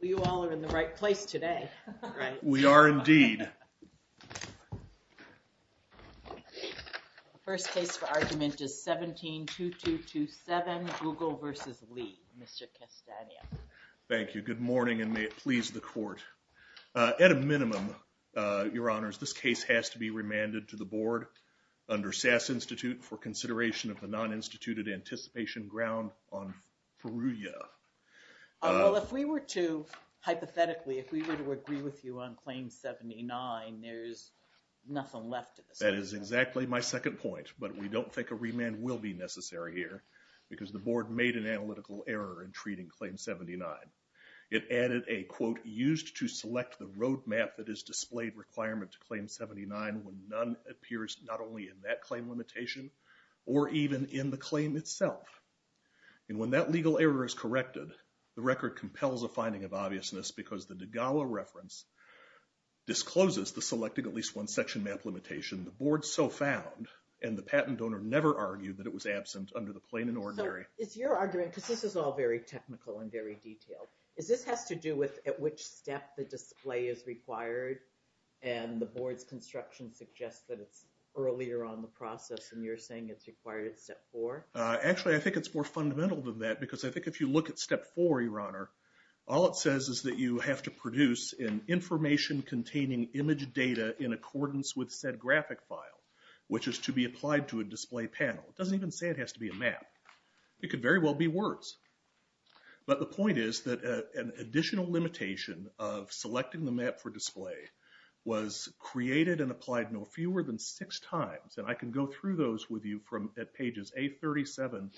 you all are in the right place today we are indeed first case for argument is 172227 Google vs. Lee mr. Castaneda thank you good morning and may it please the court at a minimum your honors this case has to be remanded to the board under SAS Institute for consideration of the non instituted anticipation ground on hypothetically if we were to agree with you on claim 79 there's nothing left that is exactly my second point but we don't think a remand will be necessary here because the board made an analytical error in treating claim 79 it added a quote used to select the roadmap that is displayed requirement to claim 79 when none appears not only in that claim limitation or even in the claim itself and when that legal error is corrected the record compels a finding of obviousness because the dagawa reference discloses the selected at least one section map limitation the board so found and the patent donor never argued that it was absent under the plain and ordinary it's your argument this is all very technical and very detailed is this has to do with at which step the display is required and the board's construction suggests that it's earlier on the more fundamental than that because I think if you look at step for your honor all it says is that you have to produce in information containing image data in accordance with said graphic file which is to be applied to a display panel it doesn't even say it has to be a map it could very well be words but the point is that an additional limitation of selecting the map for display was created and applied no fewer than six times and I can go through those with you from at pages a 37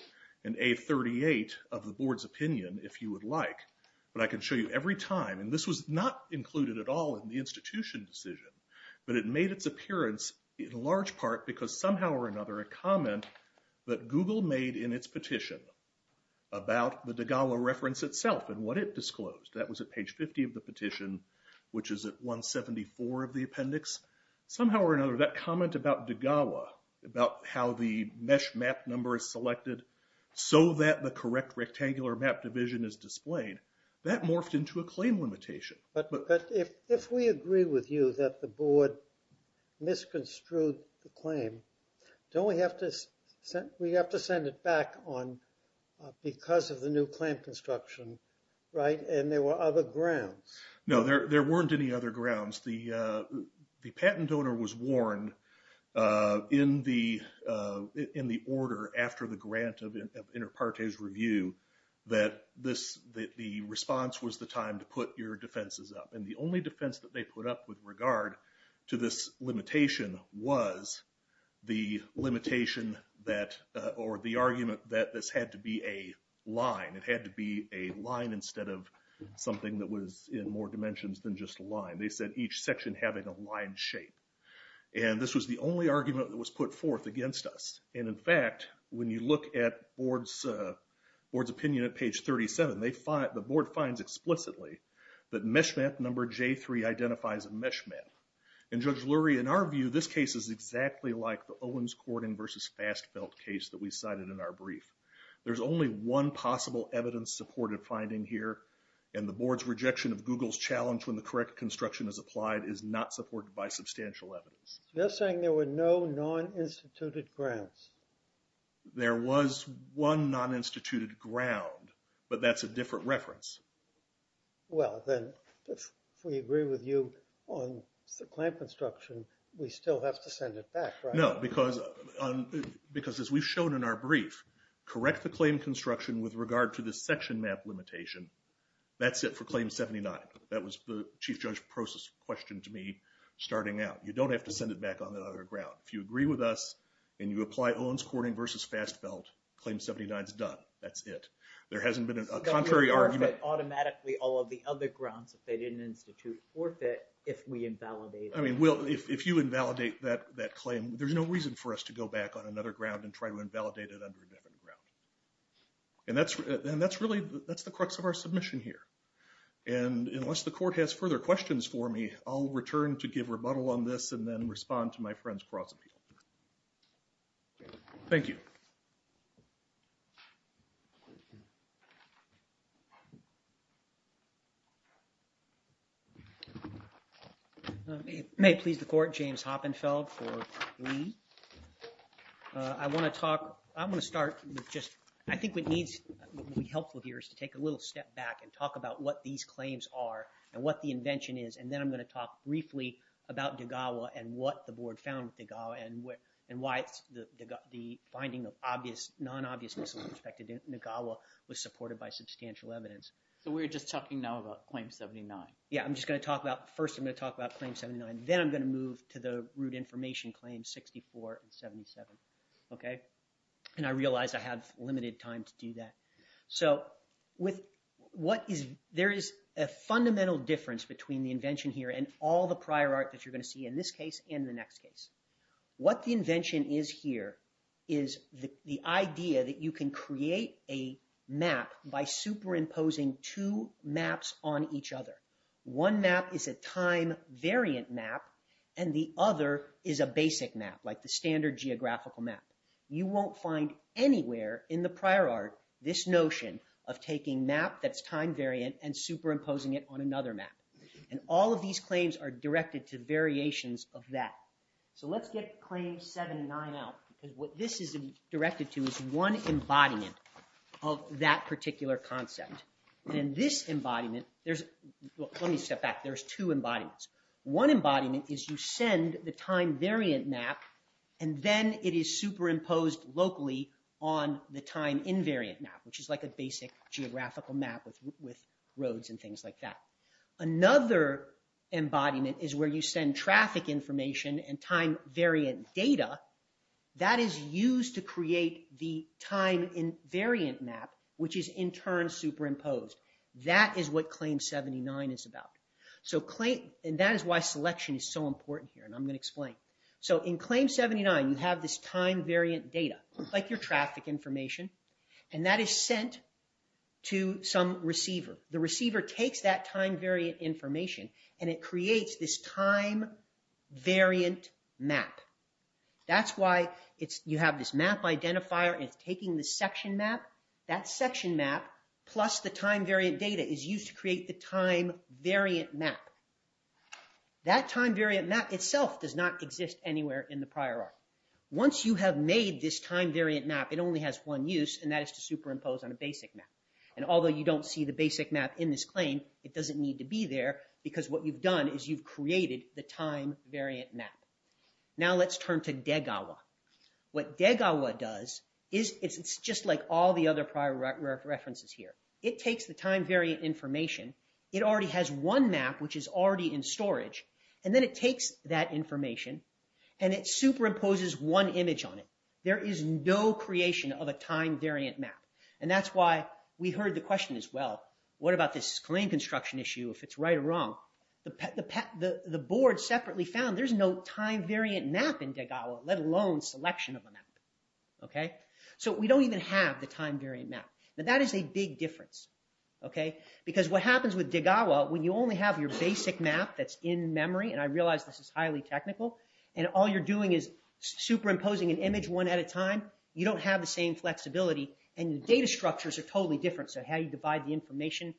and a 38 of the board's opinion if you would like but I can show you every time and this was not included at all in the institution decision but it made its appearance in large part because somehow or another a comment that Google made in its petition about the dagawa reference itself and what it disclosed that was at page 50 of the petition which is at 174 of the mesh map number is selected so that the correct rectangular map division is displayed that morphed into a claim limitation but if we agree with you that the board misconstrued the claim don't we have to set we have to send it back on because of the new clamp construction right and there were other grounds no there weren't any other grounds the the patent owner was warned in the in the order after the grant of inter partes review that this that the response was the time to put your defenses up and the only defense that they put up with regard to this limitation was the limitation that or the argument that this had to be a line it had to be a line instead of something that was in more dimensions than just a line they said each section having a line shape and this was the only argument that was put forth against us and in fact when you look at boards board's opinion at page 37 they find the board finds explicitly that mesh map number j3 identifies a mesh map and judge Lurie in our view this case is exactly like the Owens courting versus fast felt case that we cited in our brief there's only one possible evidence supported finding here and the board's rejection of Google's challenge when the correct construction is applied is not supported by substantial evidence they're saying there were no non instituted grants there was one non instituted ground but that's a different reference well then if we agree with you on the clamp construction we still have to send it back no because on because as we've shown in our brief correct the claim construction with regard to this section map limitation that's it for claim 79 that was the chief judge process question to me starting out you don't have to send it back on the other ground if you agree with us and you apply Owens courting versus fast felt claim 79 is done that's it there hasn't been a contrary argument automatically all of the other grounds if they didn't institute forfeit if we invalidate I mean well if you invalidate that that claim there's no reason for us to go back on another ground and try to invalidate it under a different ground and that's and that's really that's the crux of our submission here and unless the court has further questions for me I'll return to give rebuttal on this and then respond to my friends cross-appeal thank you may please the court James Hoppenfeld for me I want to talk I'm going to start just I think what needs to be helpful here is to take a little step back and talk about what these claims are and what the invention is and then I'm going to talk briefly about Degawa and what the board found Degawa and what and why it's the finding of obvious non-obviousness with respect to Degawa was supported by substantial evidence so we're just talking now about claim 79 yeah I'm just going to talk about first I'm going to talk about claim 79 then I'm going to move to the root information claim 64 and 77 okay and I realized I have limited time to do that so with what is there is a fundamental difference between the invention here and all the prior art that you're going to see in this case in the next case what the invention is here is the idea that you can create a map by superimposing two maps on each other one map is a time variant map and the other is a basic map like the standard geographical map you won't find anywhere in the prior art this notion of taking map that's time variant and superimposing it on another map and all of these claims are directed to variations of that so let's get claims 79 out because what this is directed to is one embodiment of that particular concept and this embodiment there's let me step back there's two embodiments one embodiment is you send the time variant map and then it is superimposed locally on the time invariant map which is like a basic geographical map with with roads and things like that another embodiment is where you send traffic information and time variant data that is used to create the time invariant map which is in turn superimposed that is what claim 79 is about so claim and that is why selection is so important here and I'm going to explain so in claim 79 you have this time variant data like your traffic information and that is sent to some receiver the receiver takes that time variant information and it creates this time variant map that's why it's you have this map identifier it's a section map that section map plus the time variant data is used to create the time variant map that time variant map itself does not exist anywhere in the prior art once you have made this time variant map it only has one use and that is to superimpose on a basic map and although you don't see the basic map in this claim it doesn't need to be there because what you've done is you've created the time variant map now let's turn to Degawa what Degawa does is it's just like all the other prior references here it takes the time variant information it already has one map which is already in storage and then it takes that information and it superimposes one image on it there is no creation of a time variant map and that's why we heard the question as well what about this claim construction issue if it's right or wrong the pet the pet the the board separately found there's no time variant map in Degawa let alone selection of a map okay so we don't even have the time variant map now that is a big difference okay because what happens with Degawa when you only have your basic map that's in memory and I realize this is highly technical and all you're doing is superimposing an image one at a time you don't have the same flexibility and the data structures are totally different so how you divide the information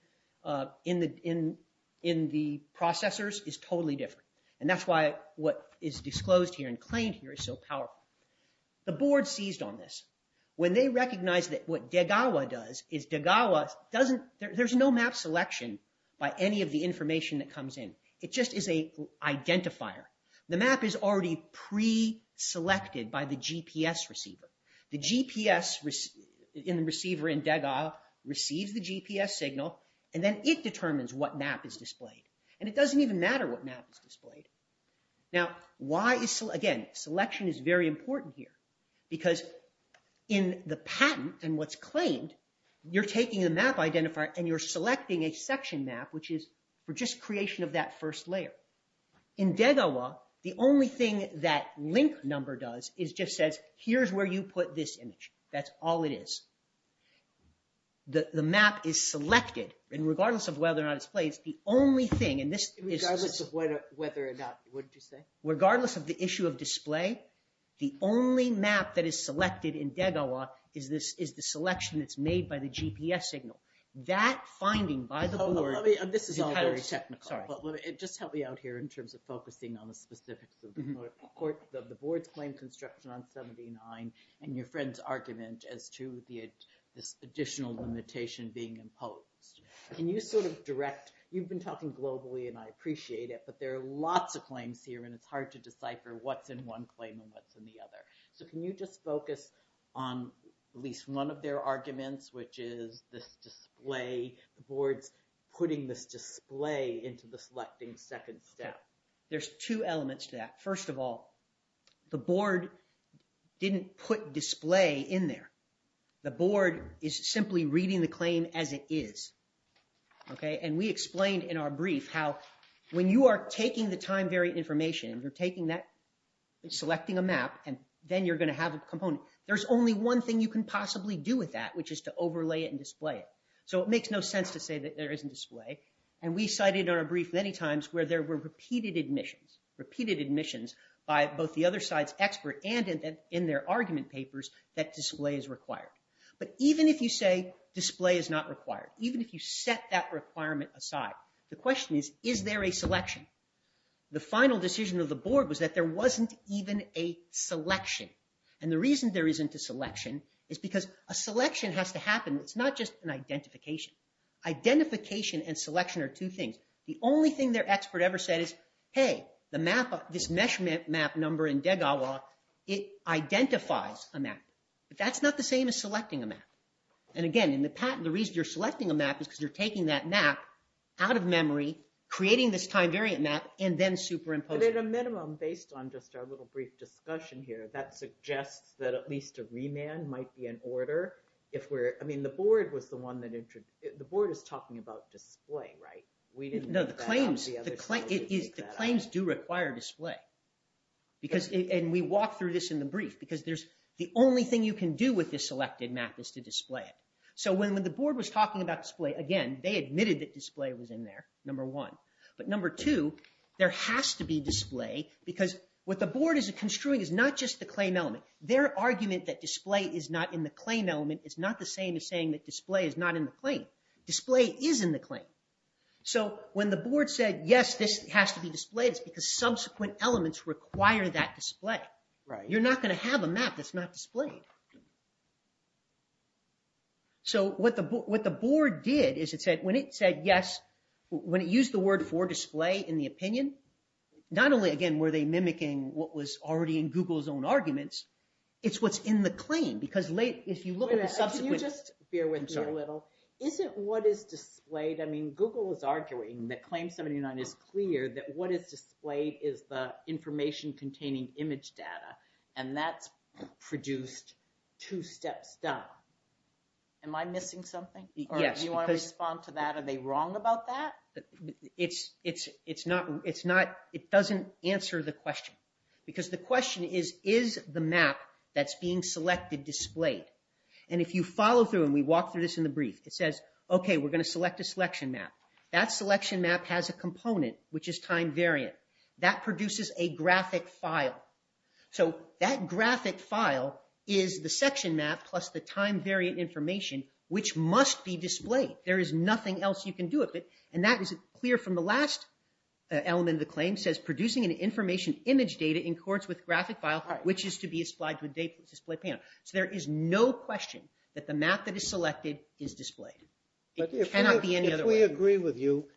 in the in in the processors is totally different and that's why what is disclosed here and claimed here is so powerful the board seized on this when they recognize that what Degawa does is Degawa doesn't there's no map selection by any of the information that comes in it just is a identifier the map is already pre selected by the GPS receiver the GPS was in the receiver in Degawa receives the GPS signal and then it determines what map is displayed and it why is so again selection is very important here because in the patent and what's claimed you're taking a map identifier and you're selecting a section map which is for just creation of that first layer in Degawa the only thing that link number does is just says here's where you put this image that's all it is the the map is selected and regardless of whether or not it's regardless of the issue of display the only map that is selected in Degawa is this is the selection that's made by the GPS signal that finding by the board this is all very technical just help me out here in terms of focusing on the specifics of the board's claim construction on 79 and your friend's argument as to the additional limitation being imposed can you sort of direct you've been talking globally and I appreciate it but there are lots of claims here and it's hard to decipher what's in one claim and what's in the other so can you just focus on at least one of their arguments which is this display the boards putting this display into the selecting second step there's two elements to that first of all the board didn't put display in there the and we explained in our brief how when you are taking the time-variant information you're taking that selecting a map and then you're going to have a component there's only one thing you can possibly do with that which is to overlay it and display it so it makes no sense to say that there isn't display and we cited on a brief many times where there were repeated admissions repeated admissions by both the other sides expert and in their argument papers that display is required but even if you say display is not required even if you set that requirement aside the question is is there a selection the final decision of the board was that there wasn't even a selection and the reason there isn't a selection is because a selection has to happen it's not just an identification identification and selection are two things the only thing their expert ever said is hey the map of this measurement map number in Degawa it identifies a map but that's not the same as selecting a map and again in the patent the reason you're selecting a map because you're taking that map out of memory creating this time-variant map and then superimpose it at a minimum based on just our little brief discussion here that suggests that at least a remand might be an order if we're I mean the board was the one that entered the board is talking about display right we didn't know the claims the claim is the claims do require display because and we walk through this in the brief because there's the only thing you can do with this selected map is to display it so when the board was talking about display again they admitted that display was in there number one but number two there has to be display because what the board is a construing is not just the claim element their argument that display is not in the claim element it's not the same as saying that display is not in the claim display is in the claim so when the board said yes this has to be displayed it's because subsequent elements require that display right so what the board did is it said when it said yes when it used the word for display in the opinion not only again were they mimicking what was already in Google's own arguments it's what's in the claim because later if you look at the subsequent... Can you just bear with me a little? Isn't what is displayed I mean Google is arguing that claim 79 is clear that what is displayed is the information containing image data and that's produced two steps down. Am I missing something? Yes. Do you want to respond to that? Are they wrong about that? It's not it's not it doesn't answer the question because the question is is the map that's being selected displayed and if you follow through and we walk through this in the brief it says okay we're going to select a selection map that selection map has a component which is time variant that produces a graphic file so that graphic file is the section map plus the time variant information which must be displayed there is nothing else you can do with it and that is clear from the last element of the claim says producing an information image data in chords with graphic file which is to be supplied to a display panel. So there is no question that the map that is selected is displayed. It cannot be any other way. If we agree with you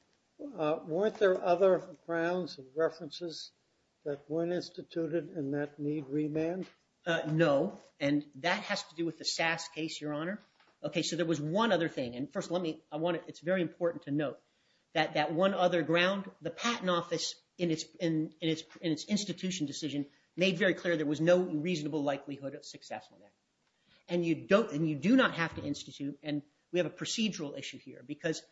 weren't there other grounds and references that weren't instituted and that need remand? No and that has to do with the SAS case your honor. Okay so there was one other thing and first let me I want it's very important to note that that one other ground the Patent Office in its in its in its institution decision made very clear there was no reasonable likelihood of successful there and you don't and you do not have to institute and we have a procedural issue here because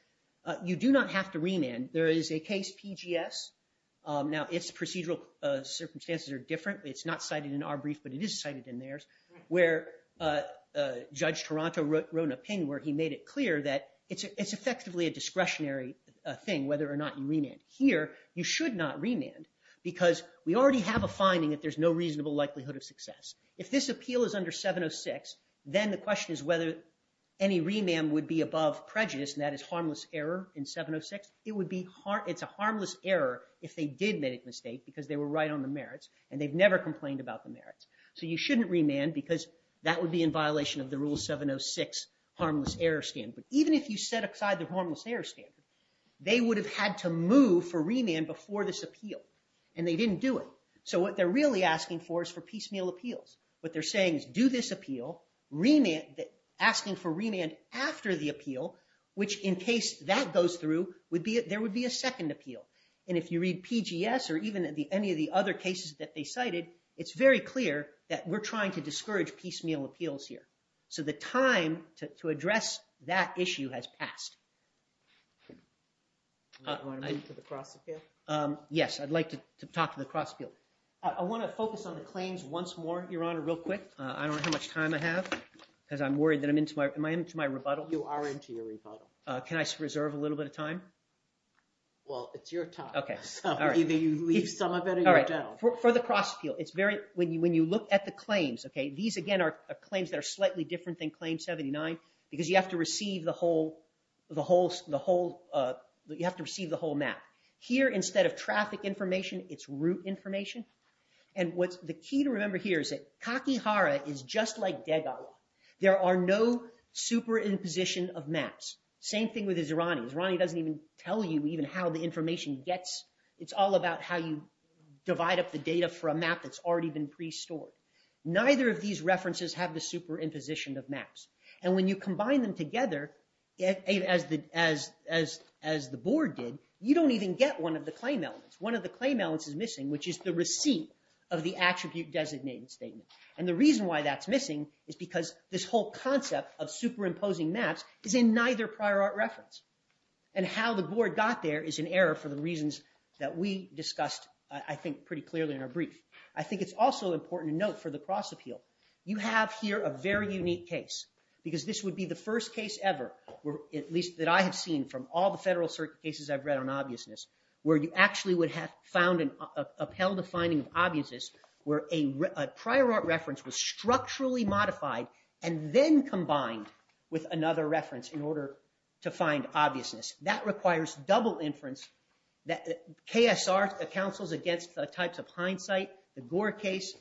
you do not have to remand. There is a case PGS now it's procedural circumstances are different it's not cited in our brief but it is cited in theirs where Judge Toronto wrote an opinion where he made it clear that it's effectively a discretionary thing whether or not you remand. Here you should not remand because we already have a finding that there's no reasonable likelihood of success. If this appeal is under 706 then the question is whether any remand would be above prejudice and that is harmless error in 706. It would be hard it's a harmless error if they did make a mistake because they were right on the merits and they've never complained about the merits. So you shouldn't remand because that would be in violation of the rule 706 harmless error standard. Even if you set aside the harmless error standard they would have had to move for remand before this appeal and they didn't do it. So what they're really asking for is for piecemeal appeals. What they're saying is do this appeal remand asking for remand after the appeal which in case that goes through would be it there would be a second appeal and if you read PGS or even at the any of the other cases that they cited it's very clear that we're trying to discourage piecemeal appeals here. So the time to address that issue has passed. Yes I'd like to talk to the cross appeal. I want to focus on the how much time I have because I'm worried that I'm into my am I into my rebuttal? You are into your rebuttal. Can I reserve a little bit of time? Well it's your time. Okay all right for the cross appeal it's very when you when you look at the claims okay these again are claims that are slightly different than claim 79 because you have to receive the whole the whole the whole you have to receive the whole map. Here instead of traffic information it's route information and what's the key to remember here is that Kakihara is just like Degawa. There are no superimposition of maps. Same thing with the Zirani. Zirani doesn't even tell you even how the information gets it's all about how you divide up the data for a map that's already been pre-stored. Neither of these references have the superimposition of maps and when you combine them together as the as as as the board did you don't even get one of the claim elements. One of the claim elements is missing which is the receipt of the attribute designated statement and the reason why that's missing is because this whole concept of superimposing maps is in neither prior art reference and how the board got there is an error for the reasons that we discussed I think pretty clearly in our brief. I think it's also important to note for the cross appeal you have here a very unique case because this would be the first case ever where at least that I have seen from all the federal certain cases I've read on obviousness where you actually would have found an upheld a finding of obviousness where a prior art reference was structurally modified and then combined with another reference in order to find obviousness. That requires double inference that KSR counsels against the types of hindsight the Gore case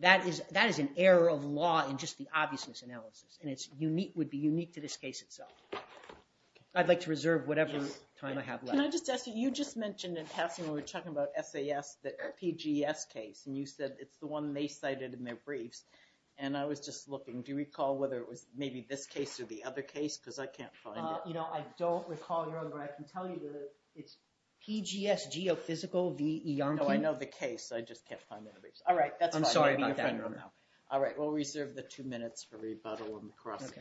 that is that is an error of law in just the obviousness analysis and it's unique would be unique to this case itself. I'd like to reserve whatever time I have left. Can I just ask you, you just mentioned in passing we were talking about SAS the PGS case and you said it's the one they cited in their briefs and I was just looking do you recall whether it was maybe this case or the other case because I can't find it. You know I don't recall your other I can tell you that it's PGS geophysical VE. No I know the case I just can't find it. Alright that's fine. I'm sorry about that. Alright we'll reserve the two minutes for questions.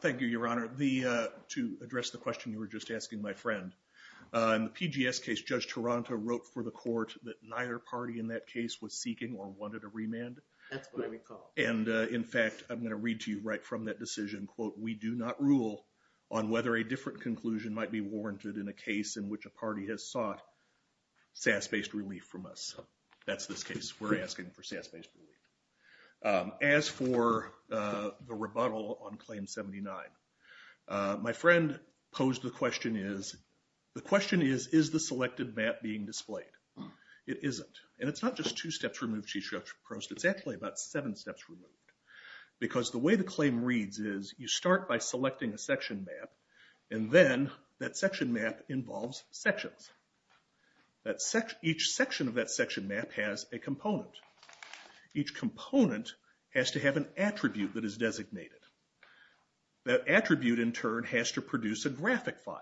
Thank you your honor. To address the question you were just asking my friend, in the PGS case Judge Taranto wrote for the court that neither party in that case was seeking or wanted a remand. That's what I recall. And in fact I'm going to read to you right from that decision quote we do not rule on whether a different conclusion might be warranted in a case in which a party has sought SAS based relief from us. That's this case we're asking for SAS based relief. As for the rebuttal on claim 79, my friend posed the question is the question is is the selected map being displayed? It isn't and it's not just two steps removed she approached it's actually about seven steps removed. Because the way the claim reads is you start by selecting a section map and then that section map involves sections. Each section of that section map has a component. Each component has to have an attribute that is designated. That attribute in turn has to produce a graphic file.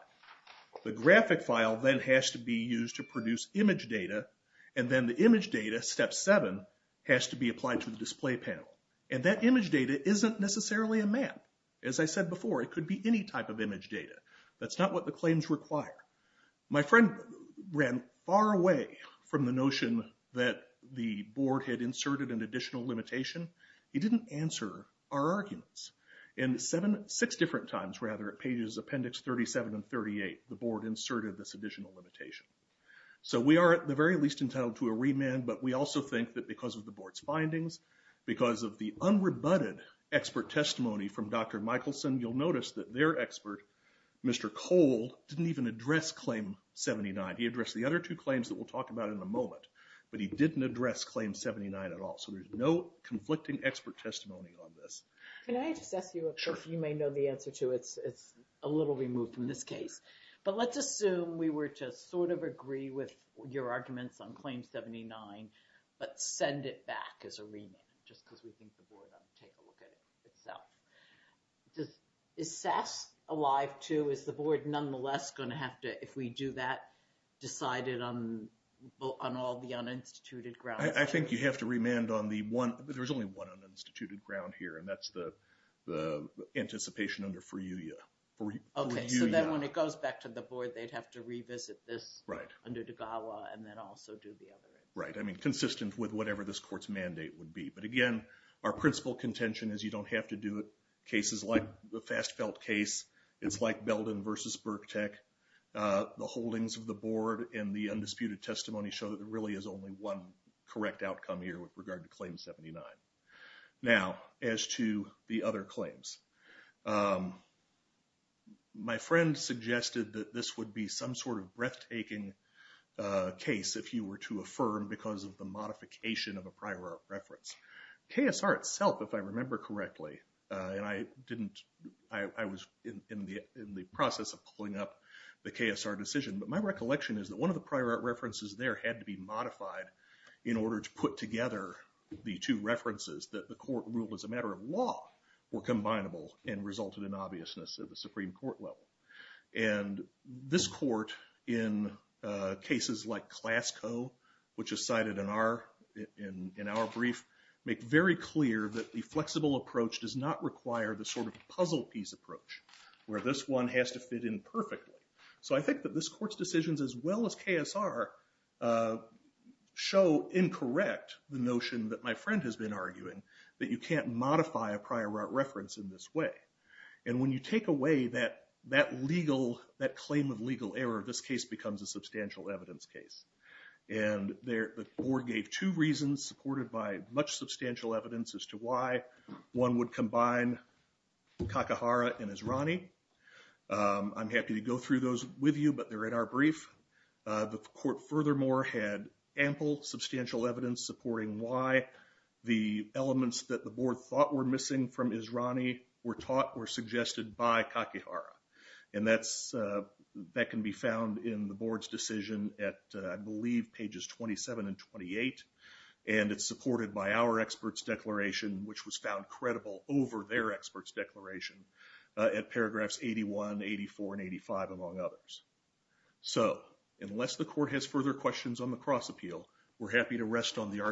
The graphic file then has to be used to produce image data and then the image data, step 7, has to be applied to the display panel. And that image data isn't necessarily a map. As I said before it could be any type of image data. That's not what the claims require. My friend ran far away from the notion that the board had inserted an additional limitation. He didn't answer our arguments. In seven, six different times rather at pages appendix 37 and 38 the board inserted this additional limitation. So we are at the very least entitled to a remand but we also think that because of the board's findings, because of the unrebutted expert testimony from Dr. Michelson, you'll notice that their expert, Mr. Cole, didn't even address claim 79. He addressed the other two claims that we'll talk about in a moment but he didn't address claim 79 at all. So there's no conflicting expert testimony on this. Can I just ask you, if you may know the answer to it. It's a little removed from this case. But let's assume we were to sort of agree with your arguments on claim 79 but send it back as a remand just because we think the board ought to take a look at it itself. Is SAS alive too? Is the board nonetheless going to have to, if we do that, decide it on all the uninstituted grounds? I think you have to remand on the one, there's only one uninstituted ground here and that's the anticipation under Furuya. Okay, so then when it goes back to the board they'd have to revisit this under Degawa and then also do the other. Right, I mean consistent with whatever this court's mandate would be. But again, our principal contention is you don't have to do it cases like the Fast Felt case. It's like Belden versus Burkett. The holdings of the board and the undisputed testimony show that there really is only one correct outcome here with regard to claim 79. Now, as to the other claims. My friend suggested that this would be some sort of breathtaking case if you were to affirm because of the modification of a prior art reference. KSR itself, if I remember correctly, and I didn't, I was in the process of pulling up the KSR decision, but my recollection is that one of the prior art references there had to be modified in order to put together the two references that the court ruled as a matter of law were combinable and resulted in obviousness at the Supreme Court level. And this court in cases like Clasco, which is cited in our brief, make very clear that the flexible approach does not require the sort of puzzle piece approach where this one has to fit in perfectly. So I think that this court's decisions as well as KSR show incorrect the notion that my friend has been arguing that you can't modify a prior art reference in this way. And when you take away that that legal, that claim of legal error, this case becomes a substantial evidence case. And there the board gave two reasons supported by much substantial evidence as to why one would combine Kakahara and Israni. I'm happy to go through those with you, but they're in our brief. The court furthermore had ample substantial evidence supporting why the elements that the board thought were missing from Israni were taught or suggested by Kakahara. And that's that can be found in the board's decision at I believe pages 27 and 28 and it's supported by our experts declaration which was found credible over their experts declaration at paragraphs 81, 84, and 85 among others. So unless the court has further questions on the cross-appeal, we're happy to rest on the Your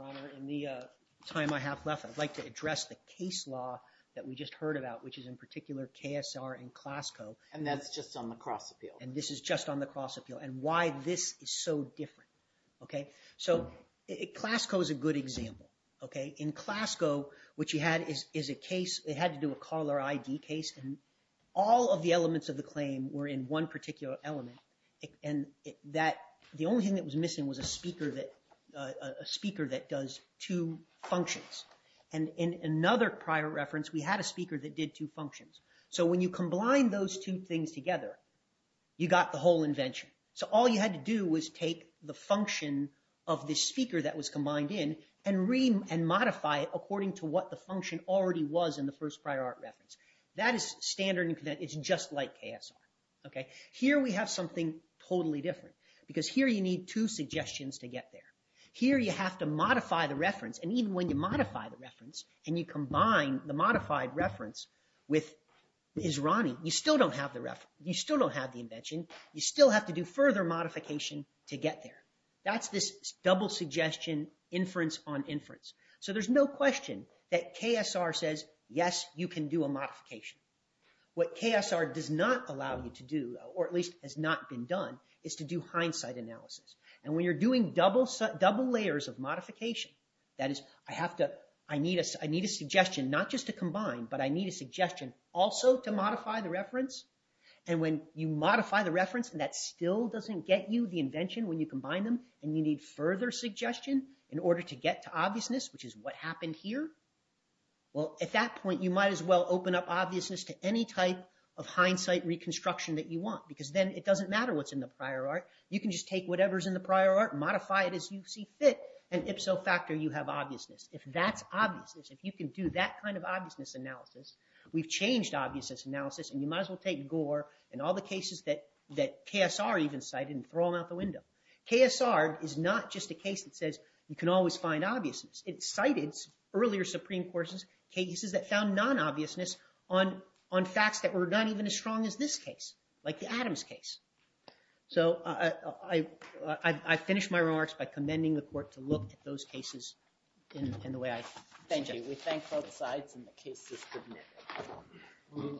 Honor, in the time I have left, I'd like to address the case law that we just heard about which is in particular KSR and Klasco. And that's just on the cross-appeal. And this is just on the cross-appeal and why this is so different. Okay, so Klasco is a good example. Okay, in Klasco what you had is is a case, it had to do a caller ID case, and all of the elements of the claim were in one particular element. And that the only thing that was a speaker that does two functions. And in another prior reference we had a speaker that did two functions. So when you combine those two things together you got the whole invention. So all you had to do was take the function of the speaker that was combined in and modify it according to what the function already was in the first prior art reference. That is standard, it's just like KSR. Okay, here we have something totally different because here you need two suggestions to get there. Here you have to modify the reference and even when you modify the reference and you combine the modified reference with Israni, you still don't have the reference, you still don't have the invention, you still have to do further modification to get there. That's this double suggestion inference on inference. So there's no question that KSR says, yes, you can do a modification. What KSR does not allow you to do, or at least has not been done, is to do hindsight analysis. And when you're doing double layers of modification, that is, I need a suggestion not just to combine, but I need a suggestion also to modify the reference. And when you modify the reference and that still doesn't get you the invention when you combine them and you need further suggestion in order to get to obviousness, which is what happened here, well at that point you might as well open up obviousness to any type of hindsight reconstruction that you want. Because then it doesn't matter what's in the prior art, you can just take whatever's in the prior art, modify it as you see fit, and ipso facto you have obviousness. If that's obviousness, if you can do that kind of obviousness analysis, we've changed obviousness analysis, and you might as well take Gore and all the cases that KSR even cited and throw them out the window. KSR is not just a case that says you can always find obviousness. It cited earlier Supreme Courts' cases that found non-obviousness on facts that were not even as strong as this case, like the Adams case. So I finished my remarks by commending the court to look at those cases in the way I did. Thank you. We thank both sides and the case is submitted.